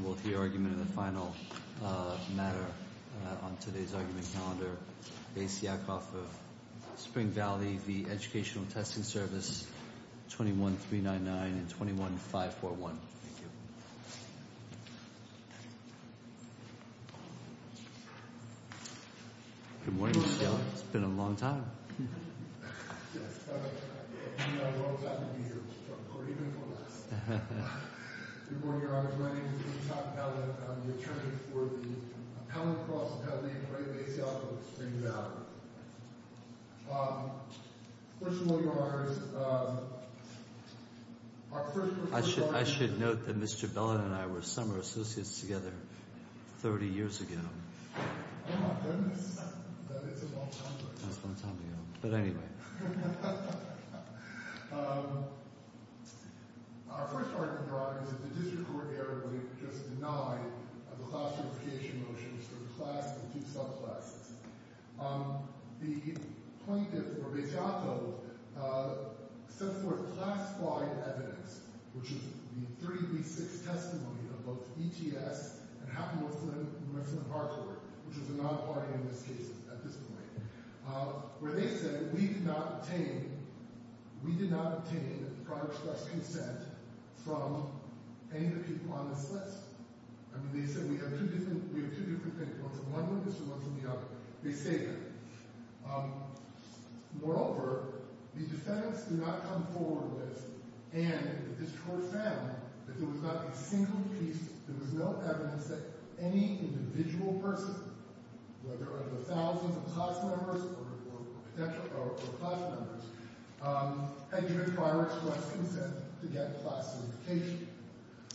Bais Yaakov of Spring Valley v. Educational Testing Service, 21-399 and 21-541 I'm the attorney for the common cause of how they equate Bais Yaakov of Spring Valley. First of all, your honors, our first... I should note that Mr. Bellin and I were summer associates together 30 years ago. Oh my goodness, that is a long time ago. That was a long time ago, but anyway. Our first argument, your honors, is that the district court erroneously just denied the class unification motions for the class of the two subclasses. The plaintiff for Bais Yaakov sets forth class-wide evidence, which is the 3 v. 6 testimony of both ETS and Houghton Mifflin Harcourt, which is a non-party in this case at this point. Where they said we did not obtain prior express consent from any of the people on this list. I mean, they said we have two different viewpoints, one from this one and one from the other. They say that. Moreover, the defendants do not come forward with, and the district court found, that there was not a single piece, there was no evidence that any individual person, whether it was thousands of class members or class members, had given prior express consent to get class unification.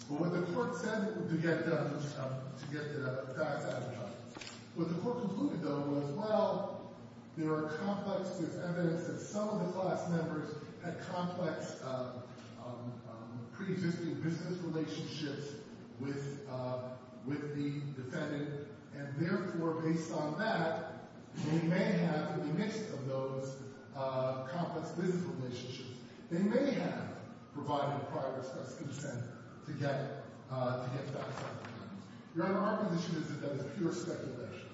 But what the court said to get that done, what the court concluded, though, was, well, there are complex pieces of evidence that some of the class members had complex pre-existing business relationships with the defendant. And therefore, based on that, they may have, in the midst of those complex business relationships, they may have provided prior express consent to get class unification. Your Honor, our position is that that is pure speculation.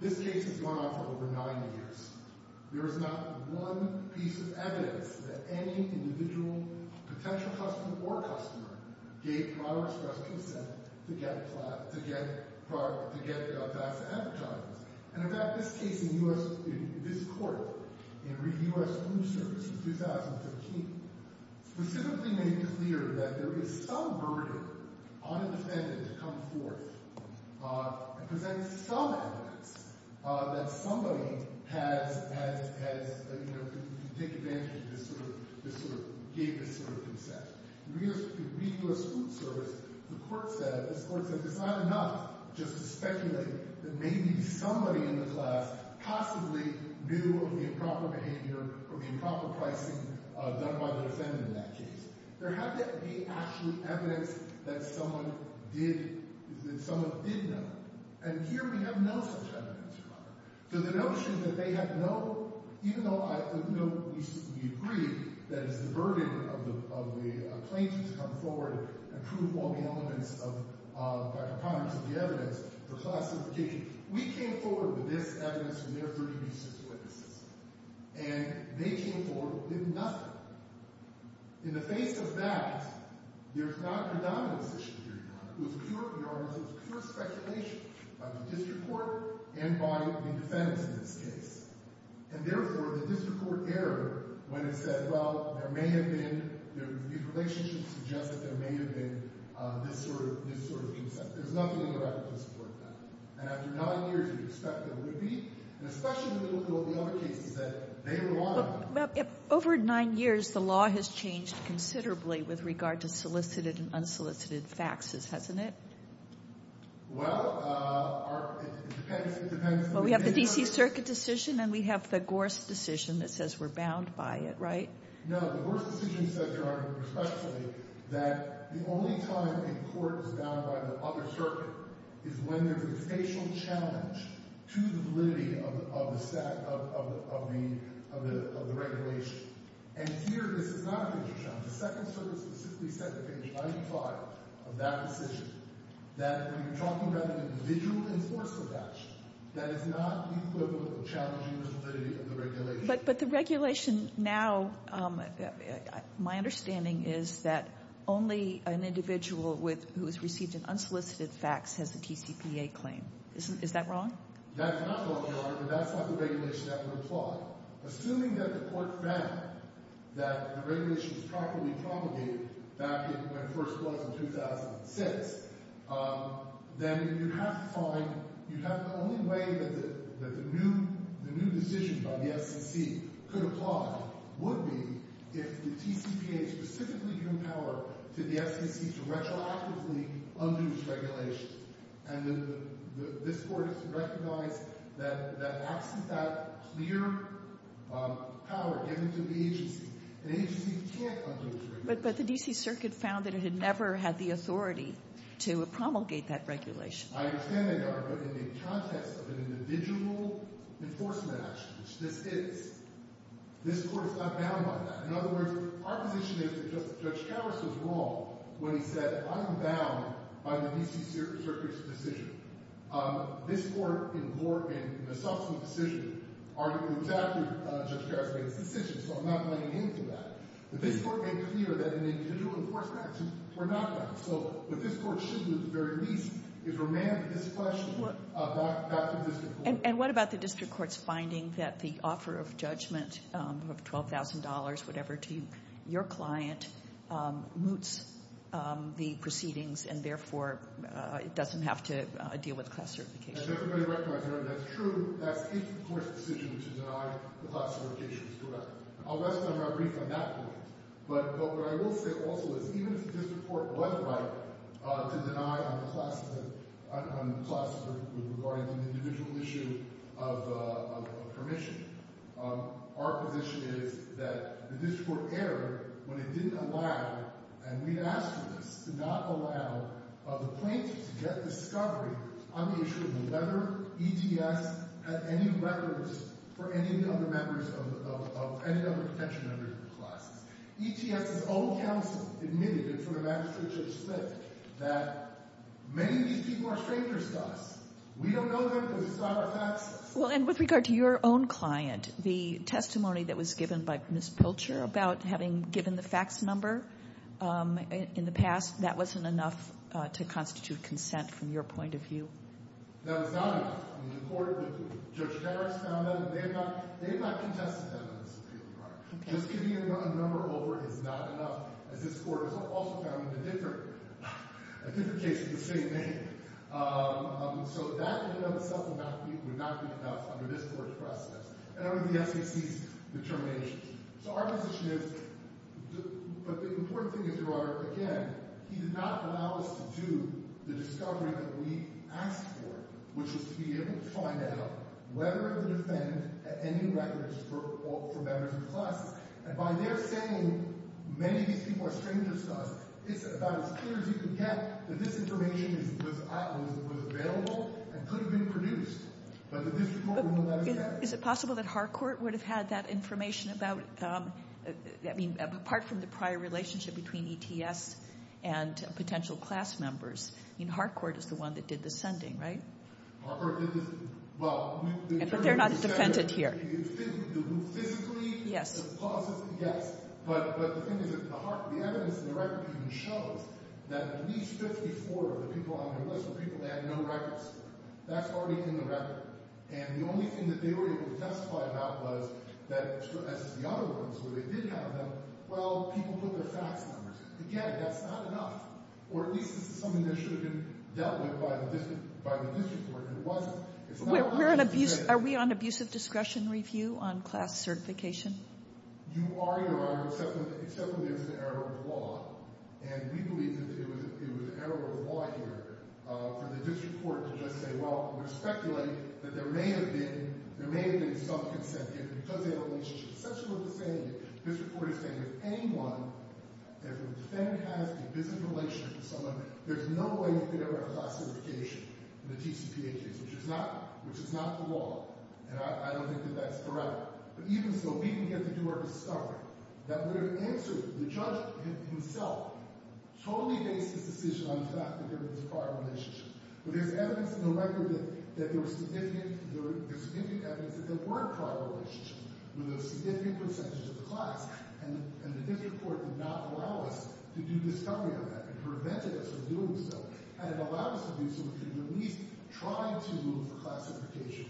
This case has gone on for over 90 years. There is not one piece of evidence that any individual, potential customer or customer, gave prior express consent to get class, to get, to get class advertisements. And in fact, this case in U.S., in this court, in U.S. Blue Service in 2015, specifically made clear that there is some burden on a defendant to come forth and present some evidence that somebody has, has, has, you know, to take advantage of this sort of, this sort of, gave this sort of consent. In Regulus Blue Service, the court said, this court said, it's not enough just to speculate that maybe somebody in the class possibly knew of the improper behavior or the improper pricing done by the defendant in that case. There had to be actual evidence that someone did, that someone did know. And here we have no such evidence, Your Honor. So the notion that they have no, even though I, you know, we, we agree that it's the burden of the, of the plaintiff to come forward and prove all the elements of, of, prior to the evidence for class unification. We came forward with this evidence from their 30 recent witnesses. And they came forward with nothing. In the face of that, there's not a predominance issue here, Your Honor. It was pure, Your Honor, it was pure speculation by the district court and by the defendants in this case. And therefore, the district court erred when it said, well, there may have been, the relationship suggests that there may have been this sort of, this sort of consent. There's nothing in the record to support that. And after nine years, we expect there would be. And especially in the middle of the other cases that they relied on. Well, over nine years, the law has changed considerably with regard to solicited and unsolicited faxes, hasn't it? Well, it depends, it depends. Well, we have the D.C. Circuit decision and we have the Gorse decision that says we're bound by it, right? No, the Gorse decision said, Your Honor, respectfully, that the only time a court is bound by the other circuit is when there's a spatial challenge to the validity of the regulation. And here, this is not a spatial challenge. The second circuit specifically said at page 95 of that decision that when you're talking about an individual enforcement action, that is not equivalent to challenging the validity of the regulation. But the regulation now, my understanding is that only an individual who has received an unsolicited fax has a TCPA claim. Is that wrong? That's not wrong, Your Honor, but that's not the regulation that would apply. Well, assuming that the court found that the regulation was properly propagated back in when it first was in 2006, then you have to find you have the only way that the new decision by the FCC could apply would be if the TCPA specifically gave power to the FCC to retroactively undue regulations. And this Court has recognized that absent that clear power given to the agency, an agency can't undo a regulation. But the D.C. Circuit found that it had never had the authority to promulgate that regulation. I understand that, Your Honor, but in the context of an individual enforcement action, which this is, this Court is not bound by that. In other words, our position is that Judge Karras was wrong when he said, I'm bound by the D.C. Circuit's decision. This Court, in the subsequent decision, argued exactly what Judge Karras made his decision. So I'm not playing into that. But this Court made clear that an individual enforcement action were not bound. So what this Court should do at the very least is remand this question back to the district court. I'm just finding that the offer of judgment of $12,000, whatever, to your client moots the proceedings and, therefore, it doesn't have to deal with class certification. As everybody recognizes, Your Honor, that's true. That's its, of course, decision to deny the class certifications. Correct. I'll rest on my brief on that point. But what I will say also is even if the district court was right to deny on the class, regarding the individual issue of permission, our position is that the district court erred when it didn't allow, and we've asked for this, to not allow the plaintiff to get discovery on the issue of whether ETS had any records for any of the other members of any other potential members of the classes. ETS's own counsel admitted in front of Magistrate Judge Smith that many of these people are strangers to us. We don't know them because it's not our taxes. Well, and with regard to your own client, the testimony that was given by Ms. Pilcher about having given the fax number in the past, that wasn't enough to constitute consent from your point of view? No, it's not enough. I mean, the court, Judge Harris found that, and they have not contested that in this case, Your Honor. Just giving a number over is not enough, as this court has also found in a different case in the same name. So that in and of itself would not be enough under this court's process and under the SEC's determinations. So our position is – but the important thing is, Your Honor, again, he did not allow us to do the discovery that we asked for, which was to be able to find out whether the defendant had any records for members of the classes. And by their saying many of these people are strangers to us, it's about as clear as you can get that this information was available and could have been produced, but the district court will not accept it. Is it possible that Harcourt would have had that information about – I mean, apart from the prior relationship between ETS and potential class members? I mean, Harcourt is the one that did the sending, right? Harcourt did the – well, we – But they're not defended here. Yes. Yes. But the thing is, the evidence in the record even shows that at least 54 of the people on their list were people that had no records. That's already in the record. And the only thing that they were able to testify about was that, as the other ones, where they did have them, well, people put their fax numbers. Again, that's not enough. Or at least this is something that should have been dealt with by the district court, and it wasn't. Are we on abuse of discretion review on class certification? You are, Your Honor, except when there's an error of law. And we believe that it was an error of law here for the district court to just say, well, I'm going to speculate that there may have been – there may have been some consent here because they had a relationship essentially with the defendant. This report is saying if anyone – if the defendant has a business relationship with someone, there's no way they could ever have class certification in the TCPA case, which is not – which is not the law. And I don't think that that's correct. But even so, we can get to do our discovery. That would have answered – the judge himself totally based his decision on the fact that there was a prior relationship. But there's evidence in the record that there was significant – there's significant evidence that there were prior relationships with a significant percentage of the class, and the district court did not allow us to do discovery on that. It prevented us from doing so, and it allowed us to do so because we could at least try to move the class certification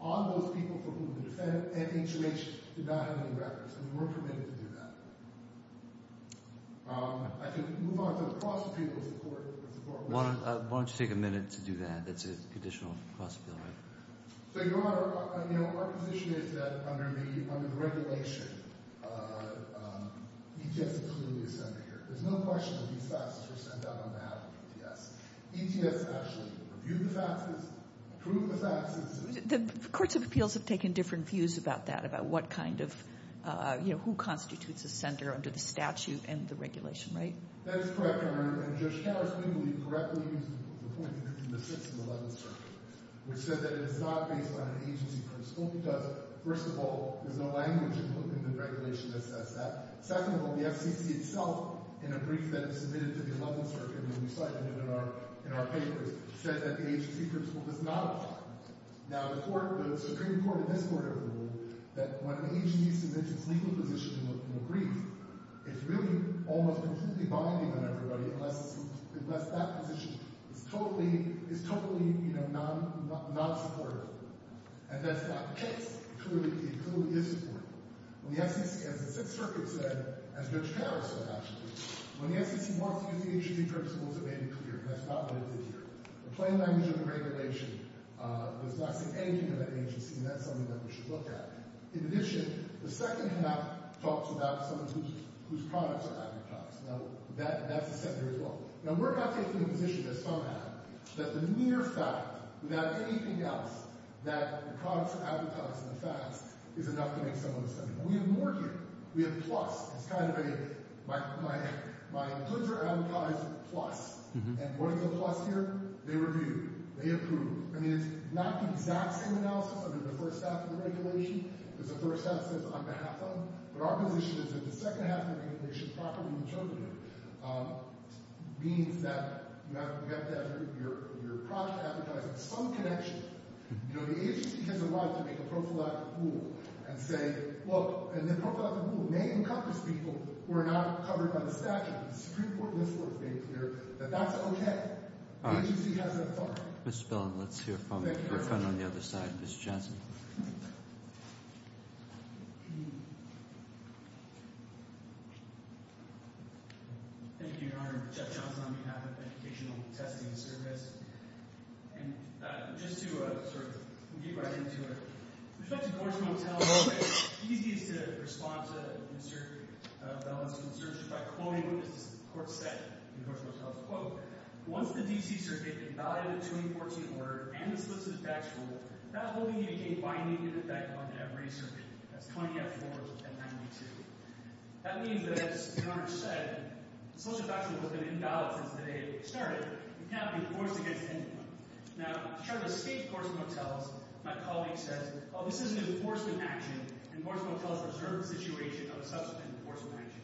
on those people for whom the defendant and H.H. did not have any records, and we weren't permitted to do that. I could move on to the cross-appeal of the court. Why don't you take a minute to do that? That's a conditional cross-appeal, right? So, Your Honor, you know, our position is that under the regulation, ETS is clearly a sender here. There's no question that these faxes were sent out on behalf of ETS. ETS actually reviewed the faxes, approved the faxes. The courts of appeals have taken different views about that, about what kind of – you know, who constitutes a sender under the statute and the regulation, right? That is correct, Your Honor. And Judge Harris, we believe, correctly used the point in the 6th and 11th circuits, which said that it is not based on an agency principle because, first of all, there's no language included in the regulation that says that. Second of all, the FCC itself, in a brief that is submitted to the 11th circuit when we cited it in our papers, said that the agency principle does not apply. Now, the Supreme Court in this court ever ruled that when an agency submits its legal position in a brief, it's really almost completely binding on everybody unless that position is totally, you know, non-supportive. And that's not the case. It clearly is supportive. The FCC, as the 6th circuit said, as Judge Harris said, actually, when the FCC wants to use the agency principles, it made it clear, and that's not what it did here. The plain language of the regulation does not say anything about the agency, and that's something that we should look at. In addition, the second half talks about someone whose products are advertised. Now, that's a sender as well. Now, we're not taking the position that somehow, that the mere fact, without anything else, that the products are advertised in the facts is enough to make someone a sender. We have more here. We have a plus. It's kind of a my goods are advertised plus. And what is a plus here? They review. They approve. I mean, it's not the exact same analysis under the first half of the regulation as the first half says on behalf of. But our position is that the second half of the regulation, properly interpreted, means that you have to have your product advertised in some connection. You know, the agency has a right to make a prophylactic rule and say, look, the prophylactic rule may encompass people who are not covered by the statute. The Supreme Court in this court has made clear that that's okay. The agency has that authority. Mr. Billin, let's hear from your friend on the other side, Mr. Johnson. Thank you, Your Honor. Jeff Johnson on behalf of Educational Testing Service. And just to sort of get right into it. With respect to Gorshman & Tell, it's easiest to respond to Mr. Billin's concerns by quoting what this court said in Gorshman & Tell's quote. Once the D.C. Circuit invalidated the 2014 order and the solicit facts rule, that will be a binding effect on every circuit. That's 20F4 and 92. That means that, as Your Honor said, the solicit facts rule has been invalid since the day it started. It cannot be enforced against anyone. Now, to try to escape Gorshman & Tell, my colleague says, oh, this is an enforcement action, and Gorshman & Tell is a reserved situation of a subsequent enforcement action.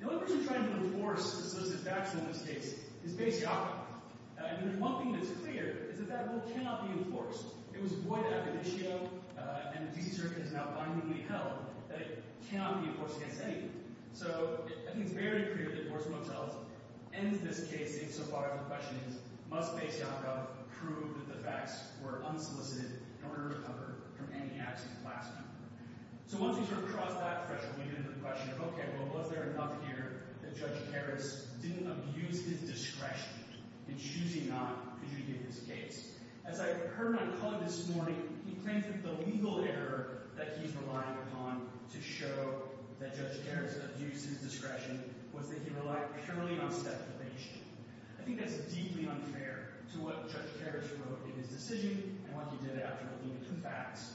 The only person trying to enforce the solicit facts rule in this case is Bayes Yacob. And one thing that's clear is that that rule cannot be enforced. It was void of the issue, and the D.C. Circuit has now bindingly held that it cannot be enforced against anyone. So I think it's very clear that Gorshman & Tell's end of this case, if so far as the question is, must Bayes Yacob prove that the facts were unsolicited in order to recover from any absent class member. So once we sort of cross that threshold, we get into the question of, okay, well, was there enough here that Judge Harris didn't abuse his discretion in choosing not to give his case? As I heard my colleague this morning, he claims that the legal error that he's relying upon to show that Judge Harris abused his discretion was that he relied purely on specification. I think that's deeply unfair to what Judge Harris wrote in his decision and what he did after looking at the facts.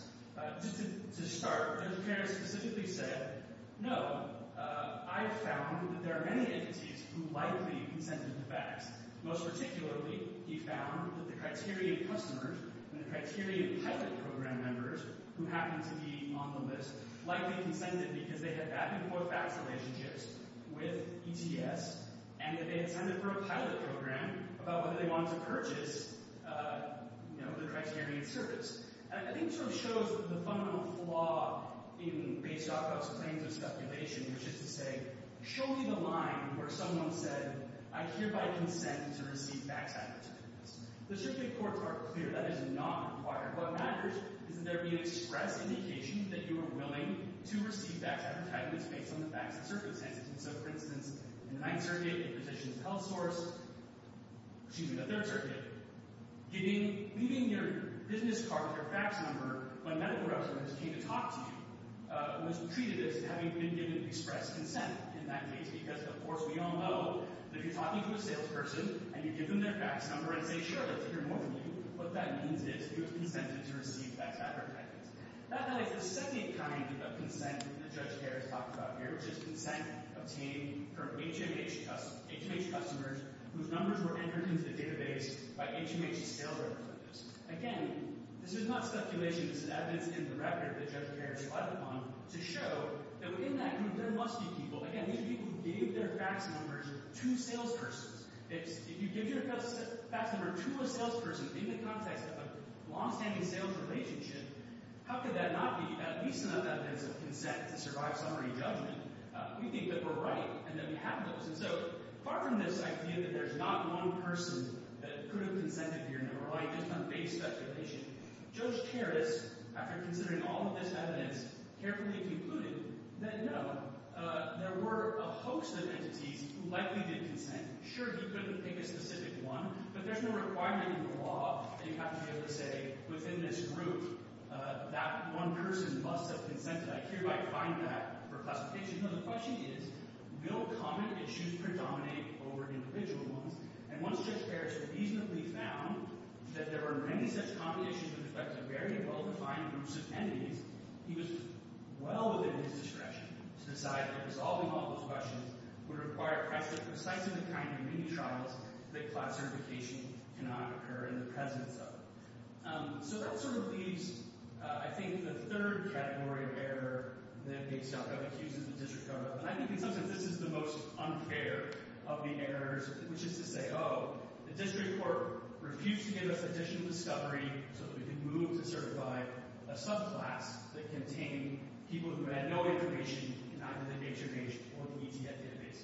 To start, Judge Harris specifically said, no, I found that there are many entities who likely consented to facts. Most particularly, he found that the criteria of customers and the criteria of pilot program members who happened to be on the list likely consented because they had back-and-forth facts relationships with ETS and that they had signed up for a pilot program about whether they wanted to purchase the criteria of service. I think it sort of shows the fundamental flaw in Bayes Yacob's claims of speculation, which is to say, show me the line where someone said, I hereby consent to receive facts advertisements. The circuit courts are clear. That is not required. What matters is that there be an express indication that you are willing to receive facts advertisements based on the facts and circumstances. So, for instance, in the Ninth Circuit, in Petitions of Health Source, excuse me, the Third Circuit, leaving your business card or fax number when medical representatives came to talk to you was treated as having been given express consent in that case because, of course, we all know that if you're talking to a salesperson and you give them their fax number and say, sure, let's hear more from you, what that means is you have consented to receive facts advertisements. That highlights the second kind of consent that Judge Harris talked about here, which is consent obtained from HMH customers whose numbers were entered into the database by HMH sales representatives. Again, this is not speculation. This is evidence in the record that Judge Harris relied upon to show that, within that group, there must be people, again, people who gave their fax numbers to salespersons. If you give your fax number to a salesperson in the context of a longstanding sales relationship, how could that not be at least enough evidence of consent to survive summary judgment? We think that we're right and that we have those. And so far from this idea that there's not one person that could have consented to your number, right, just on base speculation, Judge Harris, after considering all of this evidence, carefully concluded that, no, there were a host of entities who likely did consent. Sure, he couldn't pick a specific one, but there's no requirement in the law that you have to be able to say, within this group, that one person must have consented. I hear you might find that for classification. No, the question is, will common issues predominate over individual ones? And once Judge Harris reasonably found that there were many such combinations that reflect the very well-defined groups of entities, he was well within his discretion to decide that resolving all those questions would require precisely the kind of mini-trials that class certification cannot occur in the presence of. So that sort of leaves, I think, the third category of error that they've stuck up. It uses the district code. And I think, in some sense, this is the most unfair of the errors, which is to say, oh, the district court refused to give us additional discovery so that we could move to certify a subclass that contained people who had no information in either the nature case or the ETF database.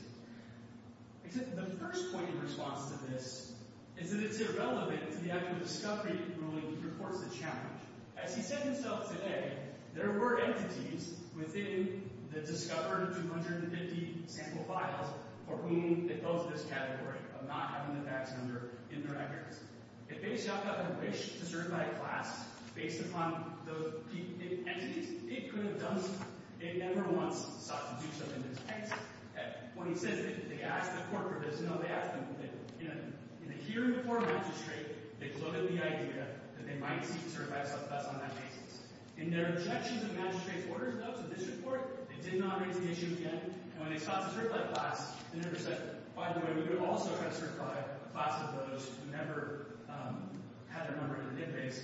Except the first point of response to this is that it's irrelevant to the act of discovery ruling that reports the challenge. As he said himself today, there were entities within the discovered 250 sample files for whom it goes to this category of not having the facts in their records. If base.gov had wished to certify a class based upon those entities, it could have done so. It never once sought to do so in this text. When he says that they asked the court for this, no, they asked them. In the hearing before magistrate, they floated the idea that they might seek to certify a subclass on that basis. In their objections of magistrate's orders, though, to this report, they did not raise the issue again. And when they sought to certify a class, they never said, by the way, we would also have certified a class of those who never had a member in the database,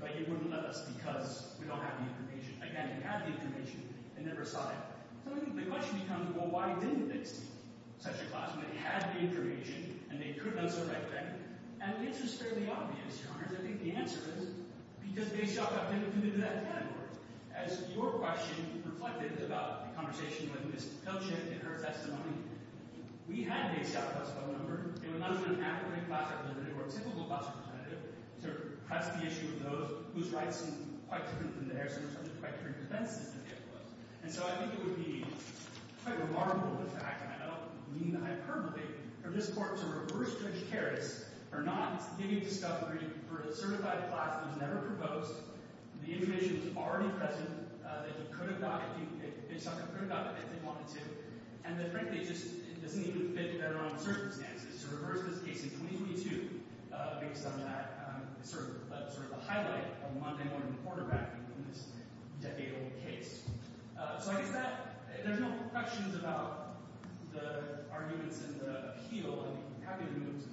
but you wouldn't let us because we don't have the information. Again, they had the information. They never sought it. So the question becomes, well, why didn't they seek such a class when they had the information and they could have done so right then? And the answer is fairly obvious, Your Honor. I think the answer is because base.gov got limited to that category. As your question reflected about the conversation with Ms. Pilchik in her testimony, we had a base.gov class phone number. It was not even an appropriate class that was limited or a typical class representative to address the issue of those whose rights seemed quite different than theirs and whose subject criteria defenses that they opposed. And so I think it would be quite remarkable, in fact, and I don't mean to hyperbole, for this court to reverse judge Karras for not giving discovery for a certified class that was never proposed, the information was already present, that they could have gotten if they wanted to, and that frankly it just doesn't even fit their own circumstances. So reverse this case in 2022 based on that sort of a highlight of Monday morning quarterbacking in this decade-old case. So I guess that – there's no questions about the arguments and the appeal. I'm happy to move to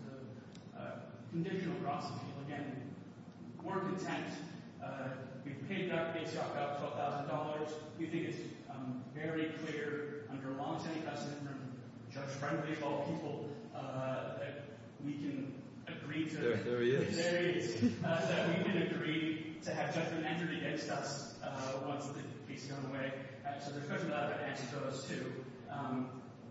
the conditional process appeal. Again, we're content. We've paid Dr. Baceoff about $12,000. We think it's very clear under a longstanding precedent from Judge Friendly of all people that we can agree to – There he is. There he is. That we can agree to have judgment entered against us once the case is done away. So there's good and bad answers to those too.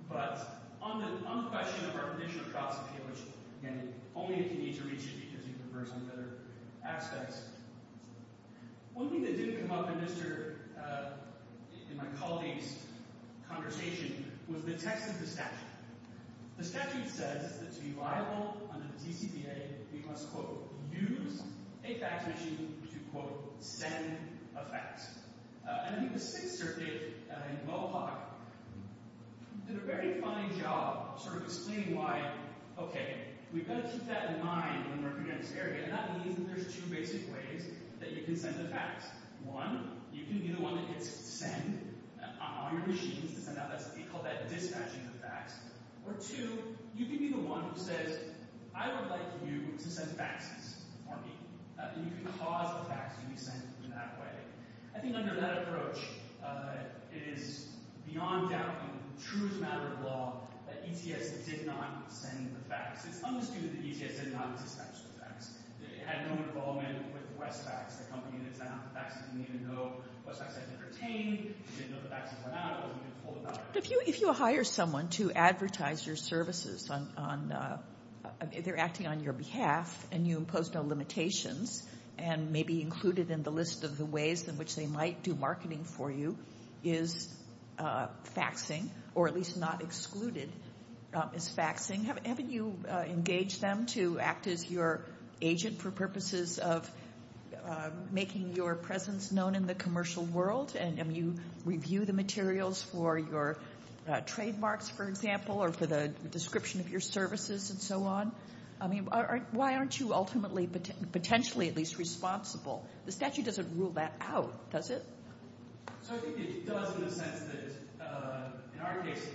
But on the question of our conditional process appeal, which, again, only if you need to reach it because you prefer some other aspects, one thing that didn't come up in my colleague's conversation was the text of the statute. The statute says that to be liable under the TCPA, we must, quote, use a fact machine to, quote, send a fax. And I think the Sixth Circuit in Mohawk did a very fine job of sort of explaining why, okay, we've got to keep that in mind when working on this area. And that means that there's two basic ways that you can send a fax. One, you can be the one that gets sent on your machines to send out what they call that dispatching of fax. Or two, you can be the one who says, I would like you to send faxes for me. And you can cause the fax to be sent in that way. I think under that approach, it is beyond doubt and true as a matter of law that ETS did not send the fax. It's understood that ETS did not dispatch the fax. It had no involvement with Westfax. The company that sent out the fax didn't even know Westfax had been pertained, didn't know the fax had went out, wasn't even told about it. If you hire someone to advertise your services, they're acting on your behalf and you impose no limitations and may be included in the list of the ways in which they might do marketing for you is faxing, or at least not excluded is faxing. Haven't you engaged them to act as your agent for purposes of making your presence known in the commercial world? And you review the materials for your trademarks, for example, or for the description of your services and so on. Why aren't you ultimately, potentially at least, responsible? The statute doesn't rule that out, does it? So I think it does in the sense that, in our case,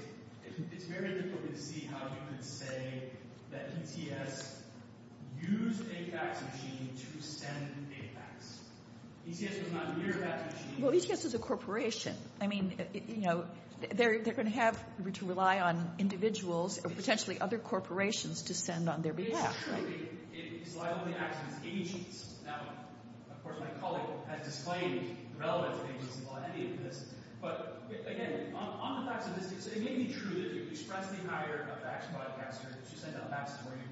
it's very difficult to see how you could say that ETS used a fax machine to send a fax. ETS was not near a fax machine. Well, ETS is a corporation. I mean, you know, they're going to have to rely on individuals or potentially other corporations to send on their behalf. It's true that it is liable to act as agents. Now, of course, my colleague has disclaimed the relevance of agents involved in any of this. But, again, on the facts of this case, it may be true that you expressly hire a fax broadcaster to send out faxes for you.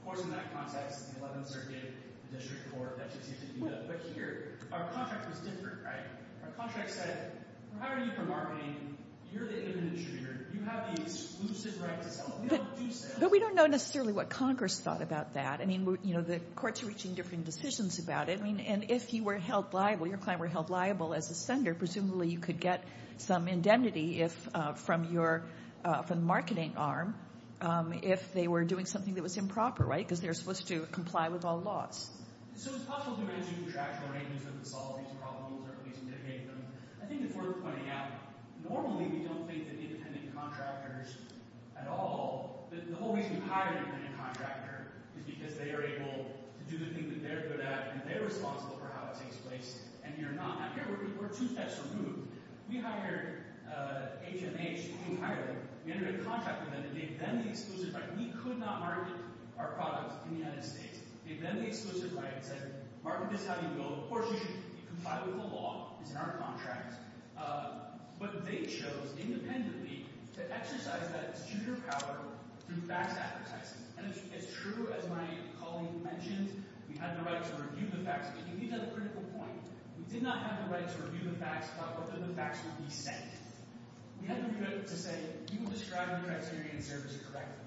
Of course, in that context, the 11th Circuit, the District Court, that should seem to do that. But here, our contract was different, right? Our contract said, we're hiring you for marketing. You're the independent distributor. You have the exclusive right to sell. But we don't know necessarily what Congress thought about that. I mean, you know, the courts are reaching different decisions about it. I mean, and if you were held liable, your client were held liable as a sender, presumably you could get some indemnity from the marketing arm if they were doing something that was improper, right? Because they're supposed to comply with all laws. So it's possible to arrange a contractual arrangement to solve these problems or at least mitigate them. I think it's worth pointing out, normally we don't think that independent contractors at all – the whole reason you hire an independent contractor is because they are able to do the thing that they're good at and they're responsible for how it takes place and you're not. And here we're two steps removed. We hired HMH. We hired them. We entered a contract with them and gave them the exclusive right. We could not market our products in the United States. We gave them the exclusive right and said, market this how you go. Of course, you should comply with the law. It's in our contract. But they chose independently to exercise that executive power through fax advertising. And it's true, as my colleague mentioned, we had the right to review the fax. But you get to the critical point. We did not have the right to review the fax about whether the fax would be sent. We had the right to say, you were describing the criteria in service correctly.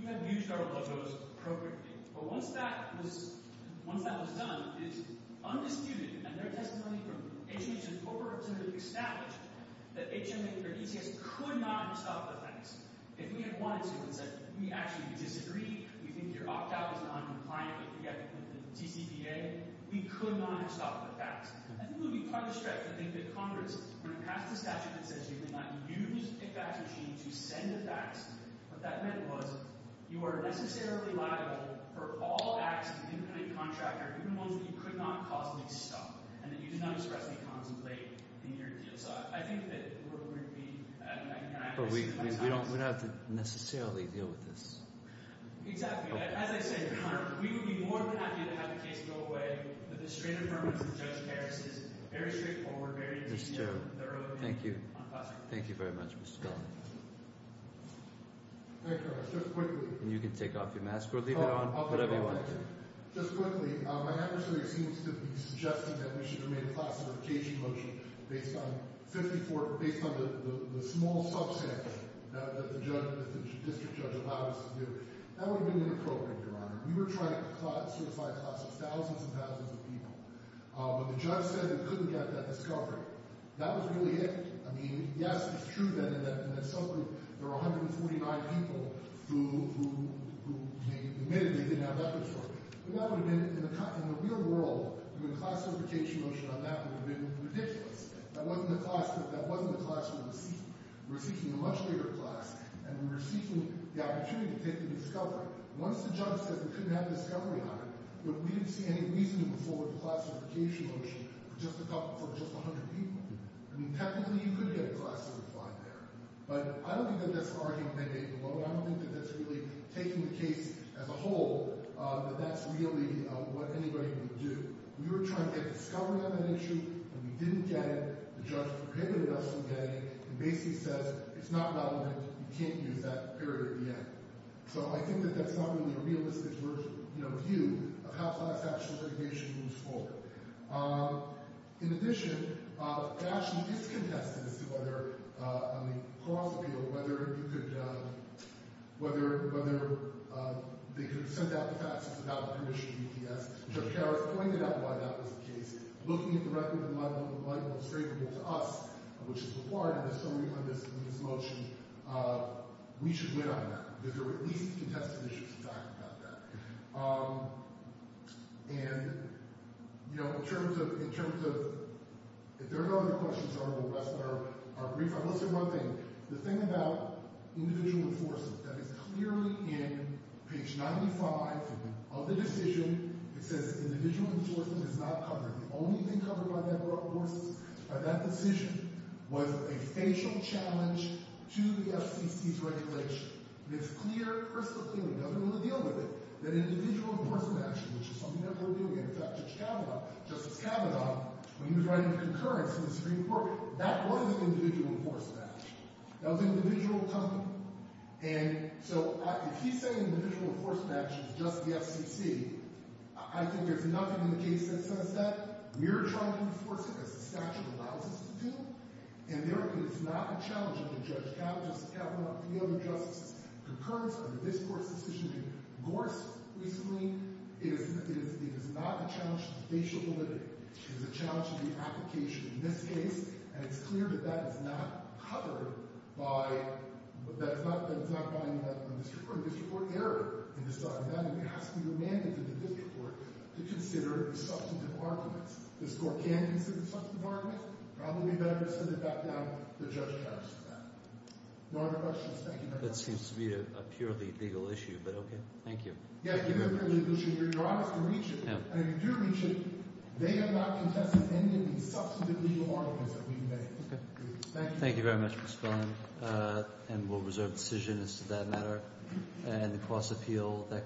You have used our logos appropriately. But once that was done, it is undisputed, and there is testimony from HMH and corporate representatives established, that HMH or ETS could not stop the fax. If we had wanted to and said, we actually disagree, we think your opt-out is noncompliant with the TCPA, we could not have stopped the fax. I think it would be part of the stretch to think that Congress, when it passed the statute that says you cannot use a fax machine to send a fax, what that meant was, you are necessarily liable for all acts of incompetent contractor, even ones that you could not possibly stop, and that you did not expressly contemplate in your deal. So I think that we're going to be— But we don't have to necessarily deal with this. Exactly. As I said, Your Honor, we would be more than happy to have the case go away, but the strain of firmness of Judge Harris is very straightforward, very detailed, very thorough. Thank you. I'm passing. Thank you very much, Mr. Scully. Thank you, Your Honor. Just quickly— And you can take off your mask or leave it on, whatever you want to do. Just quickly, my adversary seems to be suggesting that we should have made a classification motion based on 54—based on the small substantive that the district judge allowed us to do. That would have been inappropriate, Your Honor. We were trying to certify a class of thousands and thousands of people, but the judge said we couldn't get that discovery. That was really it. I mean, yes, it's true that in that subgroup there were 149 people who admittedly didn't have records for it, but that would have been—in the real world, doing a classification motion on that would have been ridiculous. That wasn't the class we were seeking. We were seeking a much bigger class, and we were seeking the opportunity to take the discovery. Once the judge said we couldn't have the discovery on it, we didn't see any reason to move forward with a classification motion for just a couple—for just 100 people. I mean, technically, you could have had a classification there, but I don't think that that's an argument they made below it. I don't think that that's really taking the case as a whole, that that's really what anybody would do. We were trying to get discovery on that issue, and we didn't get it. The judge prohibited us from getting it, and basically says it's not relevant. You can't use that period yet. So I think that that's not really a realistic view of how class classification moves forward. In addition, it actually is contested as to whether—I mean, possibly—whether you could—whether they could have sent out the faxes without permission to UPS. Judge Harris pointed out why that was the case. Looking at the record and the level of straight people to us, which is required in the discovery on this motion, we should win on that. Because there were at least contested issues, in fact, about that. And, you know, in terms of—if there are no other questions, I will rest our brief. I will say one thing. The thing about individual enforcement, that is clearly in page 95 of the decision. It says individual enforcement is not covered. The only thing covered by that decision was a facial challenge to the FCC's regulation. And it's clear, personally, the government will deal with it, that individual enforcement action, which is something that we'll deal with. In fact, Judge Kavanaugh—Justice Kavanaugh, when he was writing the concurrence in the Supreme Court, that was an individual enforcement action. That was an individual comment. And so if he's saying individual enforcement action is just the FCC, I think there's nothing in the case that says that. We are trying to enforce it as the statute allows us to do, and there is not a challenge to Judge Kavanaugh, Justice Kavanaugh, or any other justices' concurrence on this Court's decision in Gorse recently. It is not a challenge to the facial validity. It is a challenge to the application in this case. And it's clear that that is not covered by—that is not covered by any of that in this report. There's a report error in this document, and it has to be remanded to the district court to consider the substantive arguments. This court can consider the substantive arguments. Probably better to send it back down to the judge's house for that. No other questions? Thank you very much. That seems to me to be a purely legal issue, but okay. Thank you. Yeah, it is a purely legal issue. You're honest to reach it. And if you do reach it, they are not contesting any of the substantive legal arguments that we've made. Thank you. Thank you very much, Mr. Spillane. And we'll reserve decisions as to that matter. And the cross-appeal—